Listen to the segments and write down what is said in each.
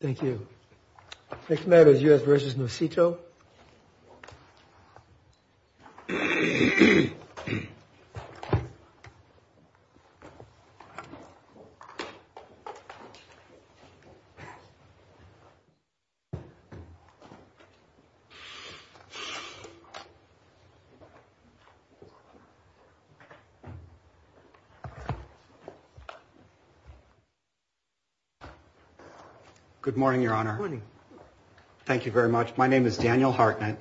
Thank you. Next matter is U.S. vs. Nocito. Good morning, Your Honor. Good morning. Thank you very much. My name is Daniel Hartnett,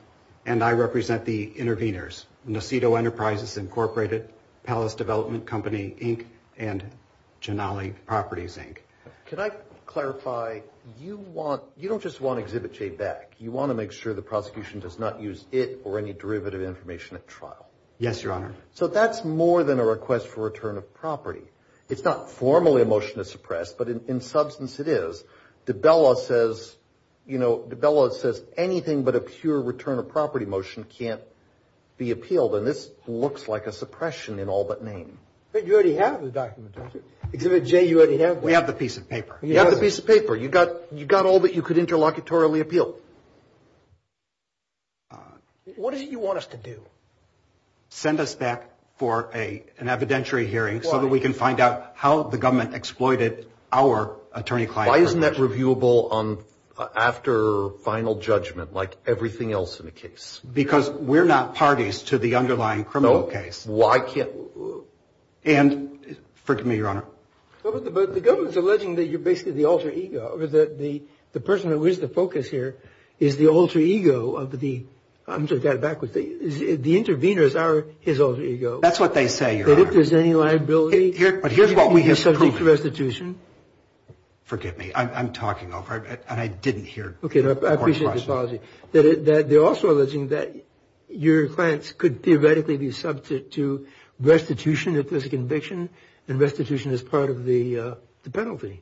and I represent the interveners, Nocito Enterprises Incorporated, Palace Development Company, Inc., and Janali Properties, Inc. Can I clarify? You don't just want Exhibit J back. You want to make sure the prosecution does not use it or any derivative information at trial. Yes, Your Honor. So that's more than a request for return of property. It's not formally a motion to suppress, but in substance it is. Dabella says, you know, Dabella says anything but a pure return of property motion can't be appealed, and this looks like a suppression in all but name. But you already have the document, don't you? Exhibit J, you already have it. We have the piece of paper. You have the piece of paper. You've got all that you could interlocutorily appeal. What is it you want us to do? Send us back for an evidentiary hearing so that we can find out how the government exploited our attorney-client relationship. Why isn't that reviewable after final judgment like everything else in the case? Because we're not parties to the underlying criminal case. No, why can't we? And forgive me, Your Honor. But the government's alleging that you're basically the alter ego, the person who is the focus here is the alter ego of the, I'm sorry, the interveners are his alter ego. That's what they say, Your Honor. That if there's any liability, he's subject to restitution. Forgive me. I'm talking over it, and I didn't hear the court's question. Okay, I appreciate the apology. They're also alleging that your clients could theoretically be subject to restitution if there's a conviction, and restitution is part of the penalty.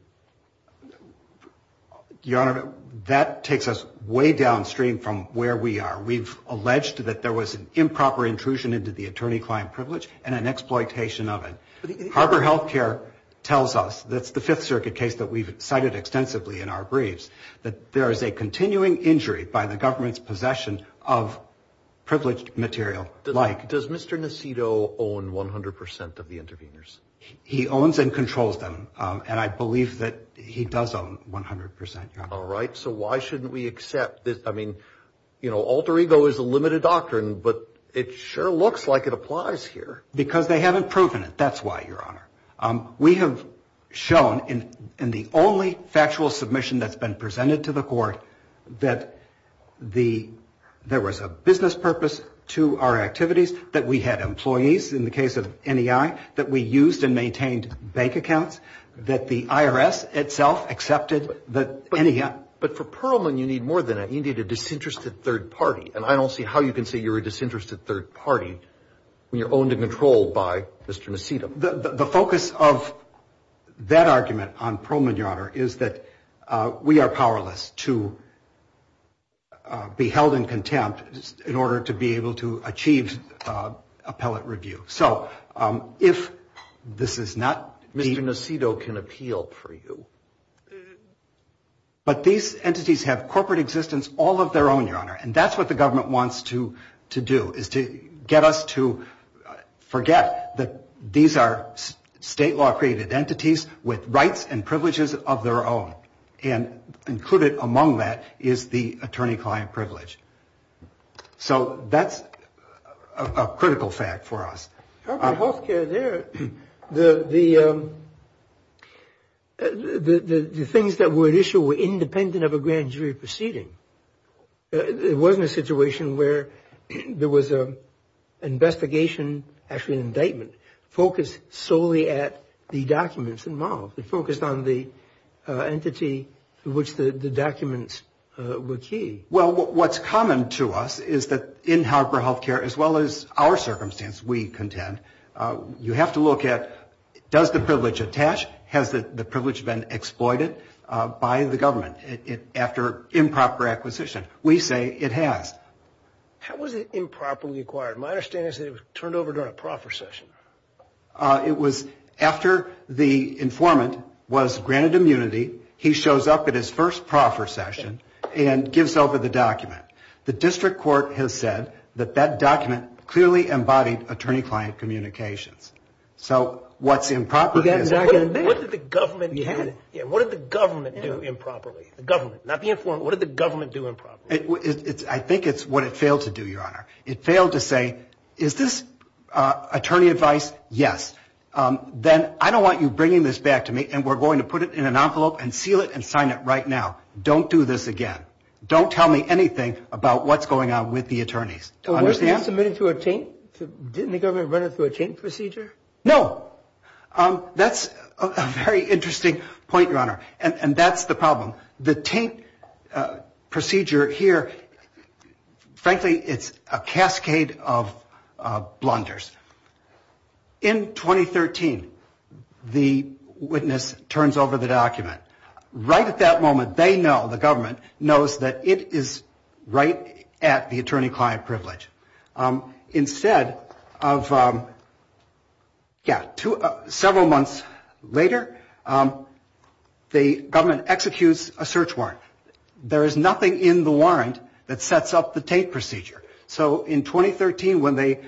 Your Honor, that takes us way downstream from where we are. We've alleged that there was an improper intrusion into the attorney-client privilege and an exploitation of it. Harbor Health Care tells us, that's the Fifth Circuit case that we've cited extensively in our briefs, that there is a continuing injury by the government's possession of privileged material. Does Mr. Nacito own 100% of the interveners? He owns and controls them, and I believe that he does own 100%, Your Honor. All right, so why shouldn't we accept this? I mean, you know, alter ego is a limited doctrine, but it sure looks like it applies here. Because they haven't proven it. That's why, Your Honor. We have shown, in the only factual submission that's been presented to the court, that there was a business purpose to our activities, that we had employees in the case of NEI, that we used and maintained bank accounts, that the IRS itself accepted the NEI. But for Perlman, you need more than that. You need a disinterested third party, and I don't see how you can say you're a disinterested third party when you're owned and controlled by Mr. Nacito. The focus of that argument on Perlman, Your Honor, is that we are powerless to be held in contempt in order to be able to achieve appellate review. So if this is not the Mr. Nacito can appeal for you. But these entities have corporate existence all of their own, Your Honor, and that's what the government wants to do is to get us to forget that these are state law created entities with rights and privileges of their own. And included among that is the attorney-client privilege. So that's a critical fact for us. The things that were at issue were independent of a grand jury proceeding. It wasn't a situation where there was an investigation, actually an indictment, focused solely at the documents involved. It focused on the entity to which the documents were key. Well, what's common to us is that in Harvard Health Care, as well as our circumstance, we contend, you have to look at does the privilege attach? Has the privilege been exploited by the government after improper acquisition? We say it has. How was it improperly acquired? My understanding is that it was turned over during a proffer session. It was after the informant was granted immunity, he shows up at his first proffer session and gives over the document. The district court has said that that document clearly embodied attorney-client communications. So what's improper? What did the government do improperly? The government, not the informant. What did the government do improperly? I think it's what it failed to do, Your Honor. It failed to say, is this attorney advice? Yes. Then I don't want you bringing this back to me, and we're going to put it in an envelope and seal it and sign it right now. Don't do this again. Don't tell me anything about what's going on with the attorneys. Understand? Wasn't it submitted through a taint? Didn't the government run it through a taint procedure? No. That's a very interesting point, Your Honor, and that's the problem. The taint procedure here, frankly, it's a cascade of blunders. In 2013, the witness turns over the document. Right at that moment, they know, the government knows that it is right at the attorney-client privilege. Instead of, yeah, several months later, the government executes a search warrant. There is nothing in the warrant that sets up the taint procedure. So in 2013, when they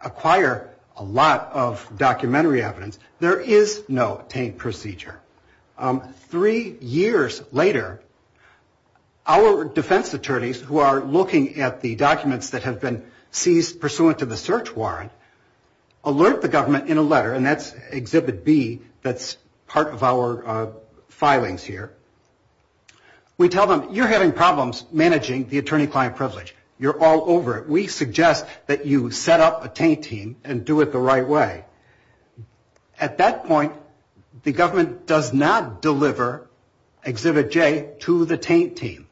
acquire a lot of documentary evidence, there is no taint procedure. Three years later, our defense attorneys who are looking at the documents that have been seized pursuant to the search warrant alert the government in a letter, and that's Exhibit B, that's part of our filings here. We tell them, you're having problems managing the attorney-client privilege. You're all over it. We suggest that you set up a taint team and do it the right way. At that point, the government does not deliver Exhibit J to the taint team.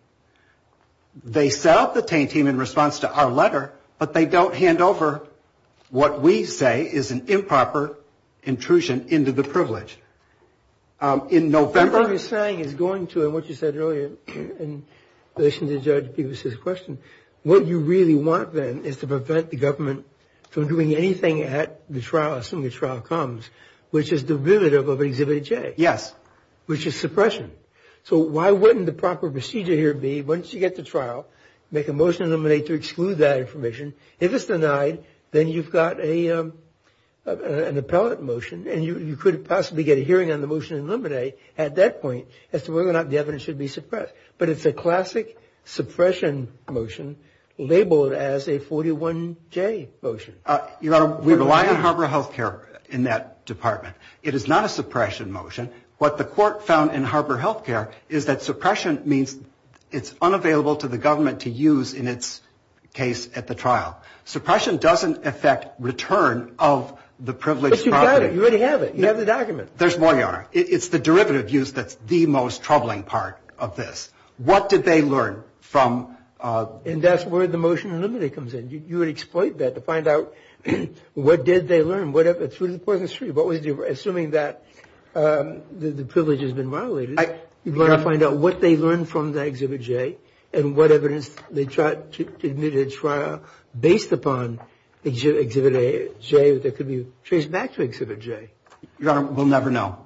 They set up the taint team in response to our letter, but they don't hand over what we say is an improper intrusion into the privilege. In November- What you're saying is going to, and what you said earlier in relation to Judge Peebles' question, what you really want then is to prevent the government from doing anything at the trial, as soon as the trial comes, which is derivative of Exhibit J. Yes. Which is suppression. So why wouldn't the proper procedure here be, once you get to trial, make a motion to exclude that information. If it's denied, then you've got an appellate motion, and you could possibly get a hearing on the motion in limine at that point, as to whether or not the evidence should be suppressed. But it's a classic suppression motion labeled as a 41J motion. We rely on Harbor Health Care in that department. It is not a suppression motion. What the court found in Harbor Health Care is that suppression means it's unavailable to the government to use in its case at the trial. Suppression doesn't affect return of the privileged property. Yes, you've got it. You already have it. You have the document. There's more, Your Honor. It's the derivative use that's the most troubling part of this. What did they learn from the ---- And that's where the motion in limine comes in. You would exploit that to find out what did they learn through the Poison Street. Assuming that the privilege has been violated, you want to find out what they learned from the Exhibit J and what evidence they tried to admit at trial based upon Exhibit J that could be traced back to Exhibit J. Your Honor, we'll never know.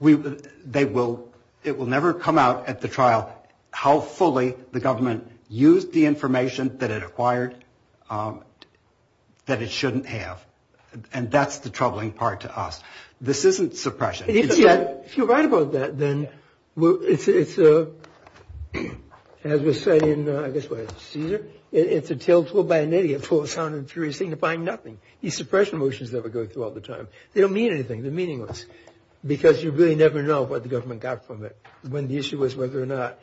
It will never come out at the trial how fully the government used the information that it acquired that it shouldn't have. And that's the troubling part to us. This isn't suppression. If you're right about that, then it's a, as we say in, I guess, what, Caesar? It's a tale told by an idiot for a sound and furious thing to find nothing. These suppression motions that we go through all the time, they don't mean anything. They're meaningless because you really never know what the government got from it when the issue was whether or not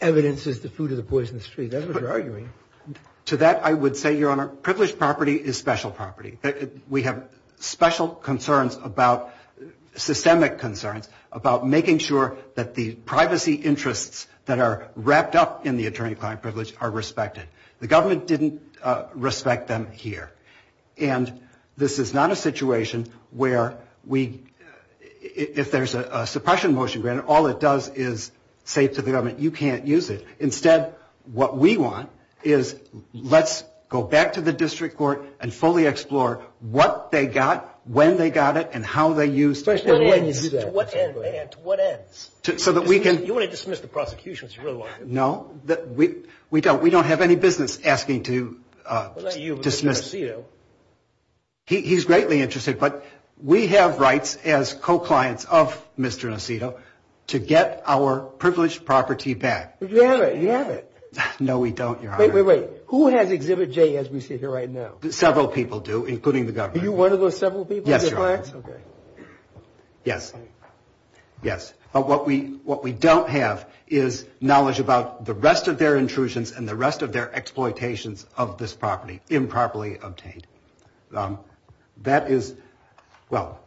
evidence is the food of the Poison Street. That's what you're arguing. To that, I would say, Your Honor, privileged property is special property. We have special concerns about, systemic concerns about making sure that the privacy interests that are wrapped up in the attorney-client privilege are respected. The government didn't respect them here. And this is not a situation where we, if there's a suppression motion, granted all it does is say to the government, you can't use it. Instead, what we want is let's go back to the district court and fully explore what they got, when they got it, and how they used it. To what end? You want to dismiss the prosecution? No, we don't. We don't have any business asking to dismiss. He's greatly interested. But we have rights as co-clients of Mr. Nacito to get our privileged property back. You have it. No, we don't, Your Honor. Wait, wait, wait. Who has Exhibit J as we see it here right now? Several people do, including the government. Are you one of those several people? Yes, Your Honor. Okay. Yes. Yes. But what we don't have is knowledge about the rest of their intrusions and the rest of their exploitations of this property improperly obtained. That is, well,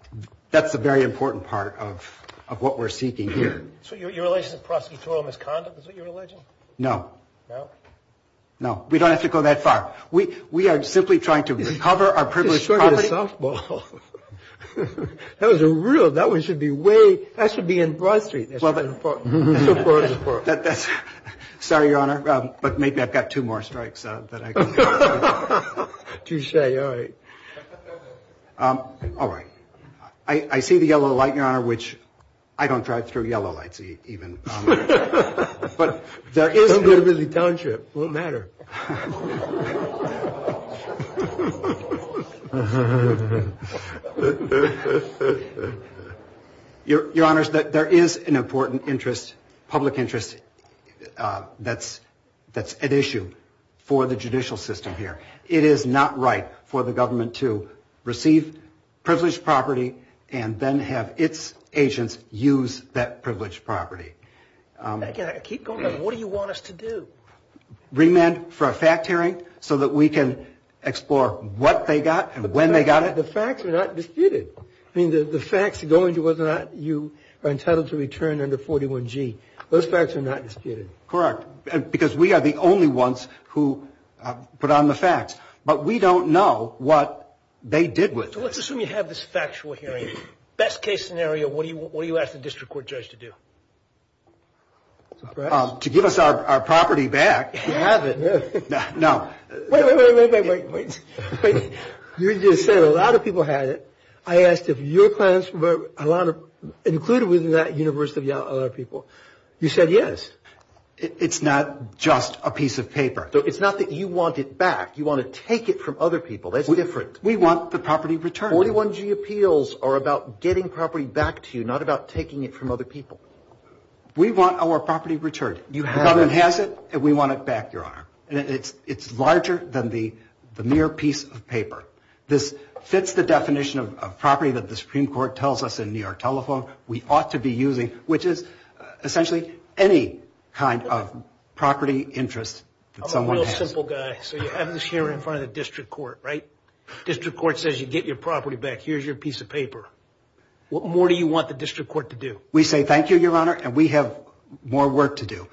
that's a very important part of what we're seeking here. So your allegiance to prosecutorial misconduct is what you're alleging? No. No? No. We don't have to go that far. We are simply trying to recover our privileged property. He's short of the softball. That was a real, that one should be way, that should be in Broad Street. So far, so forth. Sorry, Your Honor, but maybe I've got two more strikes that I can think of. Touche. All right. All right. I see the yellow light, Your Honor, which I don't drive through yellow lights even. Don't get a really township. It won't matter. Your Honors, there is an important interest, public interest, that's at issue for the judicial system here. It is not right for the government to receive privileged property and then have its agents use that privileged property. I keep going back. What do you want us to do? Remand for a fact hearing so that we can explore what they got and when they got it. The facts are not disputed. I mean, the facts are going to whether or not you are entitled to return under 41G. Those facts are not disputed. Correct. Because we are the only ones who put on the facts. But we don't know what they did with it. So let's assume you have this factual hearing. Best case scenario, what do you ask the district court judge to do? To give us our property back. Have it. No. Wait, wait, wait, wait, wait. You just said a lot of people have it. I asked if your plans were included within that universe of a lot of people. You said yes. It's not just a piece of paper. It's not that you want it back. You want to take it from other people. That's different. We want the property returned. 41G appeals are about getting property back to you, not about taking it from other people. We want our property returned. The government has it and we want it back, Your Honor. It's larger than the mere piece of paper. This fits the definition of property that the Supreme Court tells us in New York Telephone we ought to be using, which is essentially any kind of property interest that someone has. I'm a real simple guy. So you have this here in front of the district court, right? District court says you get your property back. Here's your piece of paper. What more do you want the district court to do? We say thank you, Your Honor, and we have more work to do.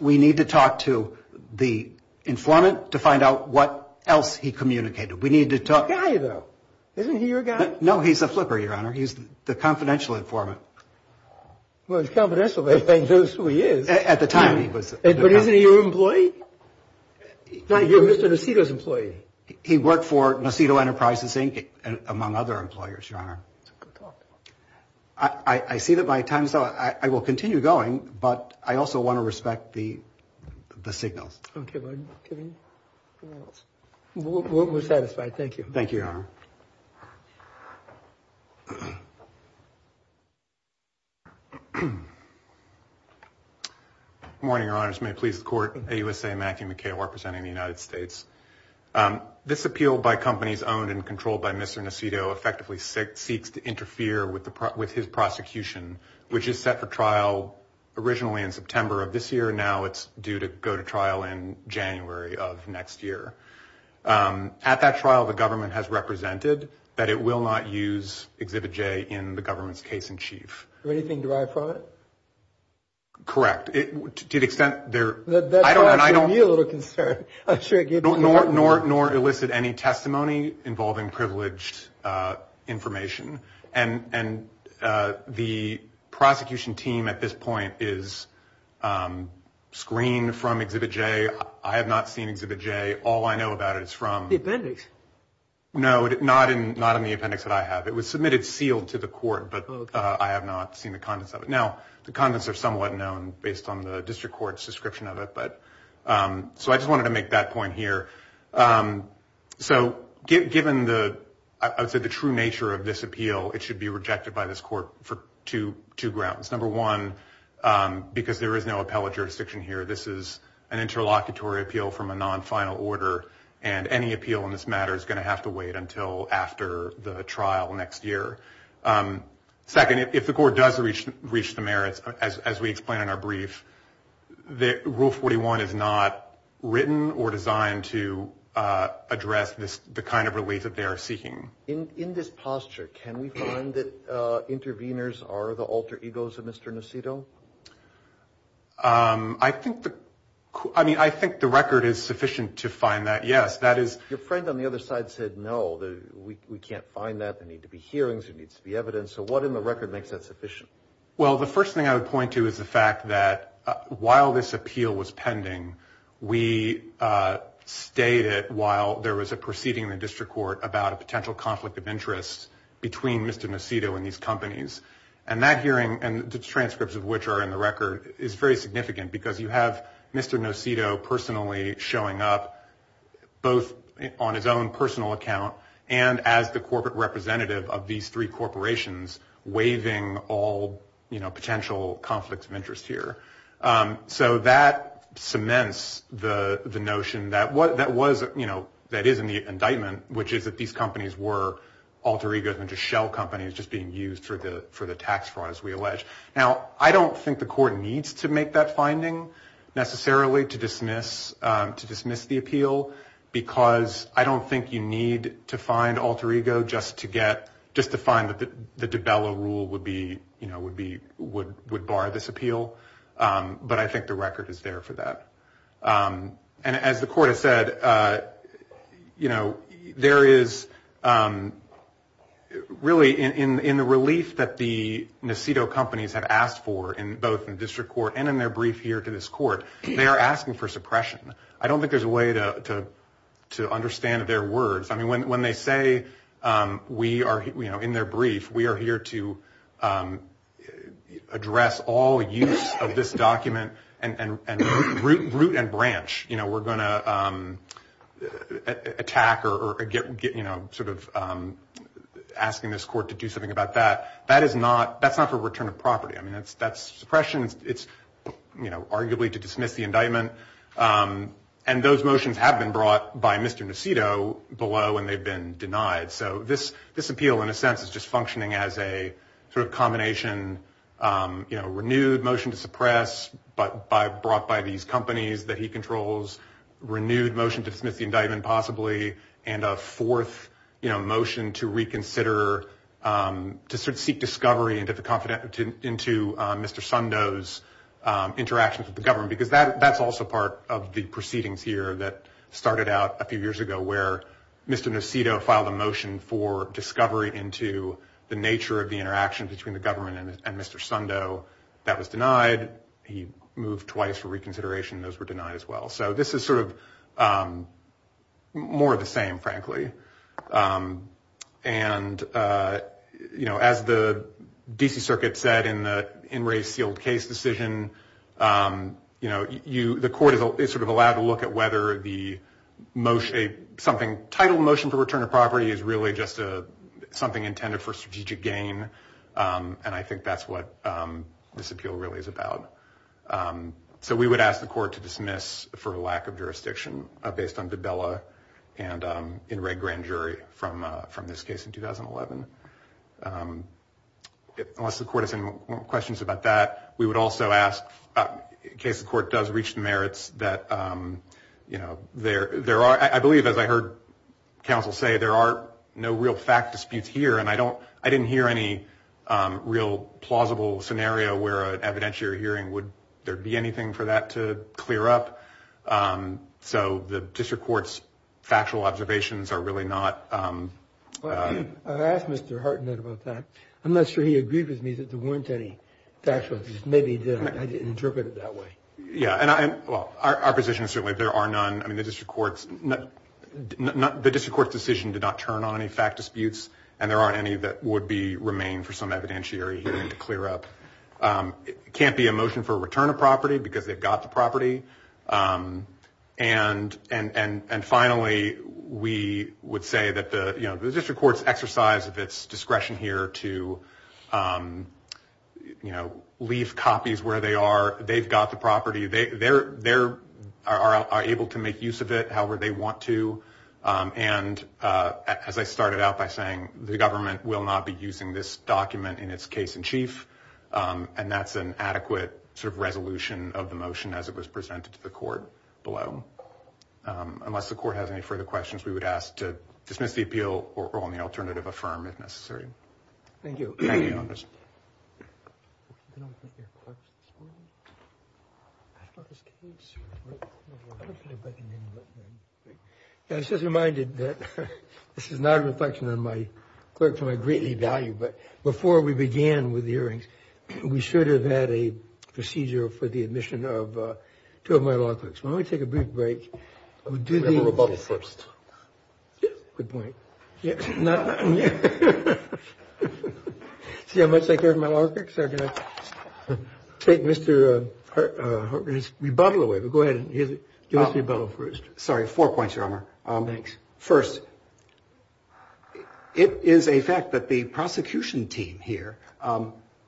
We need to talk to the informant to find out what else he communicated. We need to talk. He's a guy, though. Isn't he your guy? No, he's a flipper, Your Honor. He's the confidential informant. Well, he's confidential, but he knows who he is. At the time, he was. But isn't he your employee? You're Mr. Nacito's employee. He worked for Nacito Enterprises, Inc., among other employers, Your Honor. I see that my time is up. I will continue going, but I also want to respect the signals. Okay. We're satisfied. Thank you. Thank you, Your Honor. Good morning, Your Honors. May it please the Court. AUSA, Matthew McHale, representing the United States. This appeal by companies owned and controlled by Mr. Nacito effectively seeks to interfere with his prosecution, which is set for trial originally in September of this year. Now it's due to go to trial in January of next year. At that trial, the government has represented that it will not use Exhibit J in the government's case-in-chief. Anything derived from it? Correct. To the extent there – That caused me a little concern. Nor elicit any testimony involving privileged information. And the prosecution team at this point is screened from Exhibit J. I have not seen Exhibit J. All I know about it is from – The appendix? No, not in the appendix that I have. It was submitted sealed to the court, but I have not seen the contents of it. Now, the contents are somewhat known based on the district court's description of it. So I just wanted to make that point here. So given, I would say, the true nature of this appeal, it should be rejected by this court for two grounds. Number one, because there is no appellate jurisdiction here, this is an interlocutory appeal from a non-final order, and any appeal in this matter is going to have to wait until after the trial next year. Second, if the court does reach the merits, as we explain in our brief, Rule 41 is not written or designed to address the kind of relief that they are seeking. In this posture, can we find that interveners are the alter egos of Mr. Nacitto? I think the record is sufficient to find that, yes. Your friend on the other side said, no, we can't find that. There need to be hearings. There needs to be evidence. So what in the record makes that sufficient? Well, the first thing I would point to is the fact that while this appeal was pending, we stayed it while there was a proceeding in the district court about a potential conflict of interest between Mr. Nacitto and these companies, and that hearing and the transcripts of which are in the record is very significant because you have Mr. Nacitto personally showing up both on his own personal account and as the corporate representative of these three corporations waiving all potential conflicts of interest here. So that cements the notion that is in the indictment, which is that these companies were alter egos and just shell companies just being used for the tax fraud, as we allege. Now, I don't think the court needs to make that finding necessarily to dismiss the appeal because I don't think you need to find alter ego just to find that the DiBello rule would bar this appeal. But I think the record is there for that. And as the court has said, there is really in the relief that the Nacitto companies have asked for, both in the district court and in their brief here to this court, they are asking for suppression. I don't think there's a way to understand their words. I mean, when they say we are, you know, in their brief, we are here to address all use of this document and root and branch. You know, we're going to attack or get, you know, sort of asking this court to do something about that. That is not, that's not for return of property. I mean, that's suppression. It's, you know, arguably to dismiss the indictment. And those motions have been brought by Mr. Nacitto below and they've been denied. So this appeal, in a sense, is just functioning as a sort of combination, you know, renewed motion to suppress but brought by these companies that he controls, renewed motion to dismiss the indictment possibly, and a fourth, you know, motion to reconsider, to sort of seek discovery into Mr. Sundo's interactions with the government. Because that's also part of the proceedings here that started out a few years ago where Mr. Nacitto filed a motion for discovery into the nature of the interaction between the government and Mr. Sundo. That was denied. He moved twice for reconsideration. Those were denied as well. So this is sort of more of the same, frankly. And, you know, as the D.C. Circuit said in the in-race sealed case decision, you know, the court is sort of allowed to look at whether the motion, something titled motion for return of property is really just something intended for strategic gain. And I think that's what this appeal really is about. So we would ask the court to dismiss for a lack of jurisdiction based on Dabella and in red grand jury from this case in 2011. Unless the court has any more questions about that, we would also ask in case the court does reach the merits that, you know, there are, I believe, as I heard counsel say, there are no real fact disputes here. And I don't I didn't hear any real plausible scenario where an evidentiary hearing, would there be anything for that to clear up? So the district court's factual observations are really not. I asked Mr. Hartnett about that. I'm not sure he agreed with me that there weren't any factual. Maybe I didn't interpret it that way. Yeah. And well, our position is certainly there are none. I mean, the district court's not the district court's decision to not turn on any fact disputes. And there aren't any that would be remain for some evidentiary hearing to clear up. It can't be a motion for a return of property because they've got the property. And finally, we would say that the district court's exercise of its discretion here to, you know, leave copies where they are. They've got the property. They are able to make use of it however they want to. And as I started out by saying, the government will not be using this document in its case in chief. And that's an adequate sort of resolution of the motion as it was presented to the court below. Unless the court has any further questions, we would ask to dismiss the appeal or on the alternative affirm if necessary. Thank you. Thank you. I was just reminded that this is not a reflection on my clerk to my greatly value. But before we began with the hearings, we should have had a procedure for the admission of two of my law clerks. When we take a brief break, we'll do the rebuttal first. Good point. See how much I care for my law clerks? I'm going to take Mr. Harkin's rebuttal away. But go ahead and give us a rebuttal first. Sorry. Four points, Your Honor. Thanks. First, it is a fact that the prosecution team here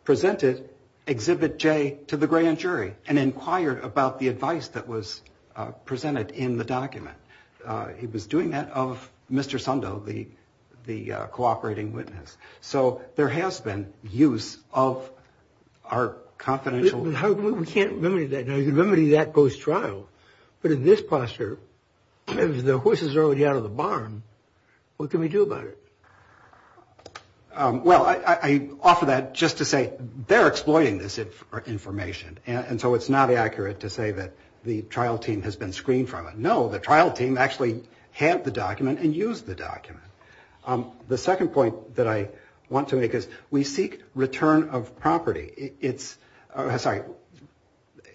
presented Exhibit J to the grand jury and inquired about the advice that was presented in the document. He was doing that of Mr. Sundo, the cooperating witness. So there has been use of our confidential. We can't remedy that. Now, you can remedy that post-trial. But in this posture, if the horses are already out of the barn, what can we do about it? Well, I offer that just to say they're exploiting this information. And so it's not accurate to say that the trial team has been screened from it. No, the trial team actually had the document and used the document. The second point that I want to make is we seek return of property. It's, sorry,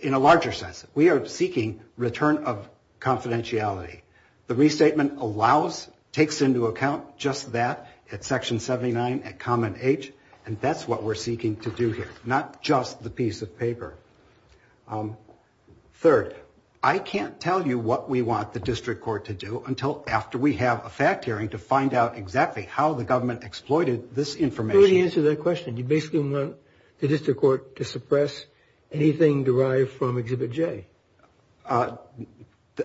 in a larger sense, we are seeking return of confidentiality. The restatement allows, takes into account just that at Section 79 at Common H, and that's what we're seeking to do here, not just the piece of paper. Third, I can't tell you what we want the district court to do until after we have a fact hearing to find out exactly how the government exploited this information. How do you answer that question? You basically want the district court to suppress anything derived from Exhibit J.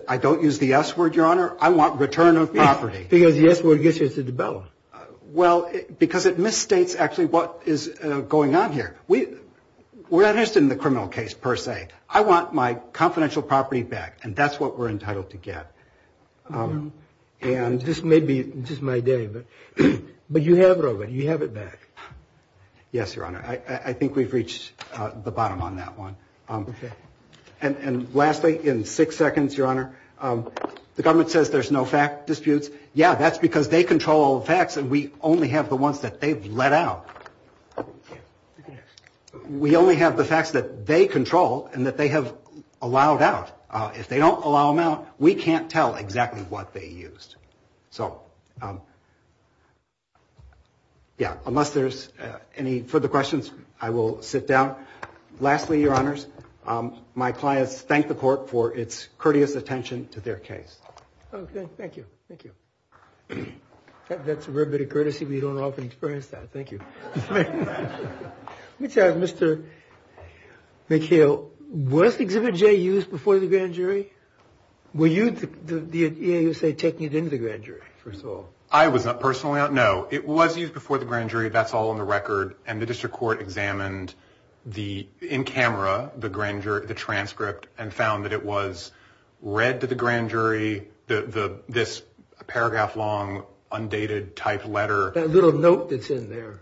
I don't use the S word, Your Honor. I want return of property. Because the S word gets you to develop. Well, because it misstates actually what is going on here. We're not interested in the criminal case per se. I want my confidential property back, and that's what we're entitled to get. This may be just my day, but you have it over. You have it back. Yes, Your Honor. I think we've reached the bottom on that one. Okay. And lastly, in six seconds, Your Honor, the government says there's no fact disputes. Yeah, that's because they control the facts, and we only have the ones that they've let out. We only have the facts that they control and that they have allowed out. If they don't allow them out, we can't tell exactly what they used. So, yeah, unless there's any further questions, I will sit down. Lastly, Your Honors, my clients thank the court for its courteous attention to their case. Okay. Thank you. Thank you. That's a rare bit of courtesy. We don't often experience that. Thank you. Let me tell you, Mr. McHale, was Exhibit J used before the grand jury? Were you, the EAU, say, taking it into the grand jury, first of all? I was not personally. No, it was used before the grand jury. That's all on the record, and the district court examined the, in camera, the transcript and found that it was read to the grand jury, this paragraph-long, undated-type letter. That little note that's in there.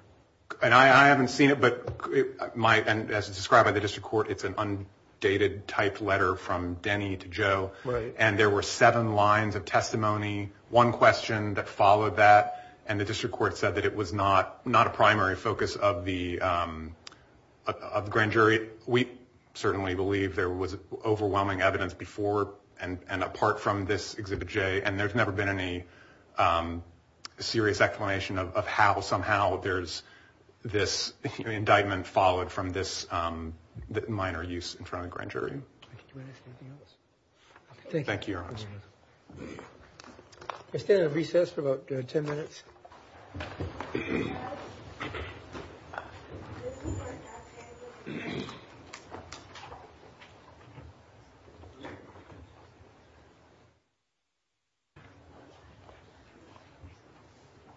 And I haven't seen it, but as described by the district court, it's an undated-type letter from Denny to Joe. Right. And there were seven lines of testimony, one question that followed that, and the district court said that it was not a primary focus of the grand jury. We certainly believe there was overwhelming evidence before and apart from this Exhibit J, and there's never been any serious explanation of how, somehow, there's this indictment followed from this minor use in front of the grand jury. Thank you, Your Honor. I stand at recess for about 10 minutes.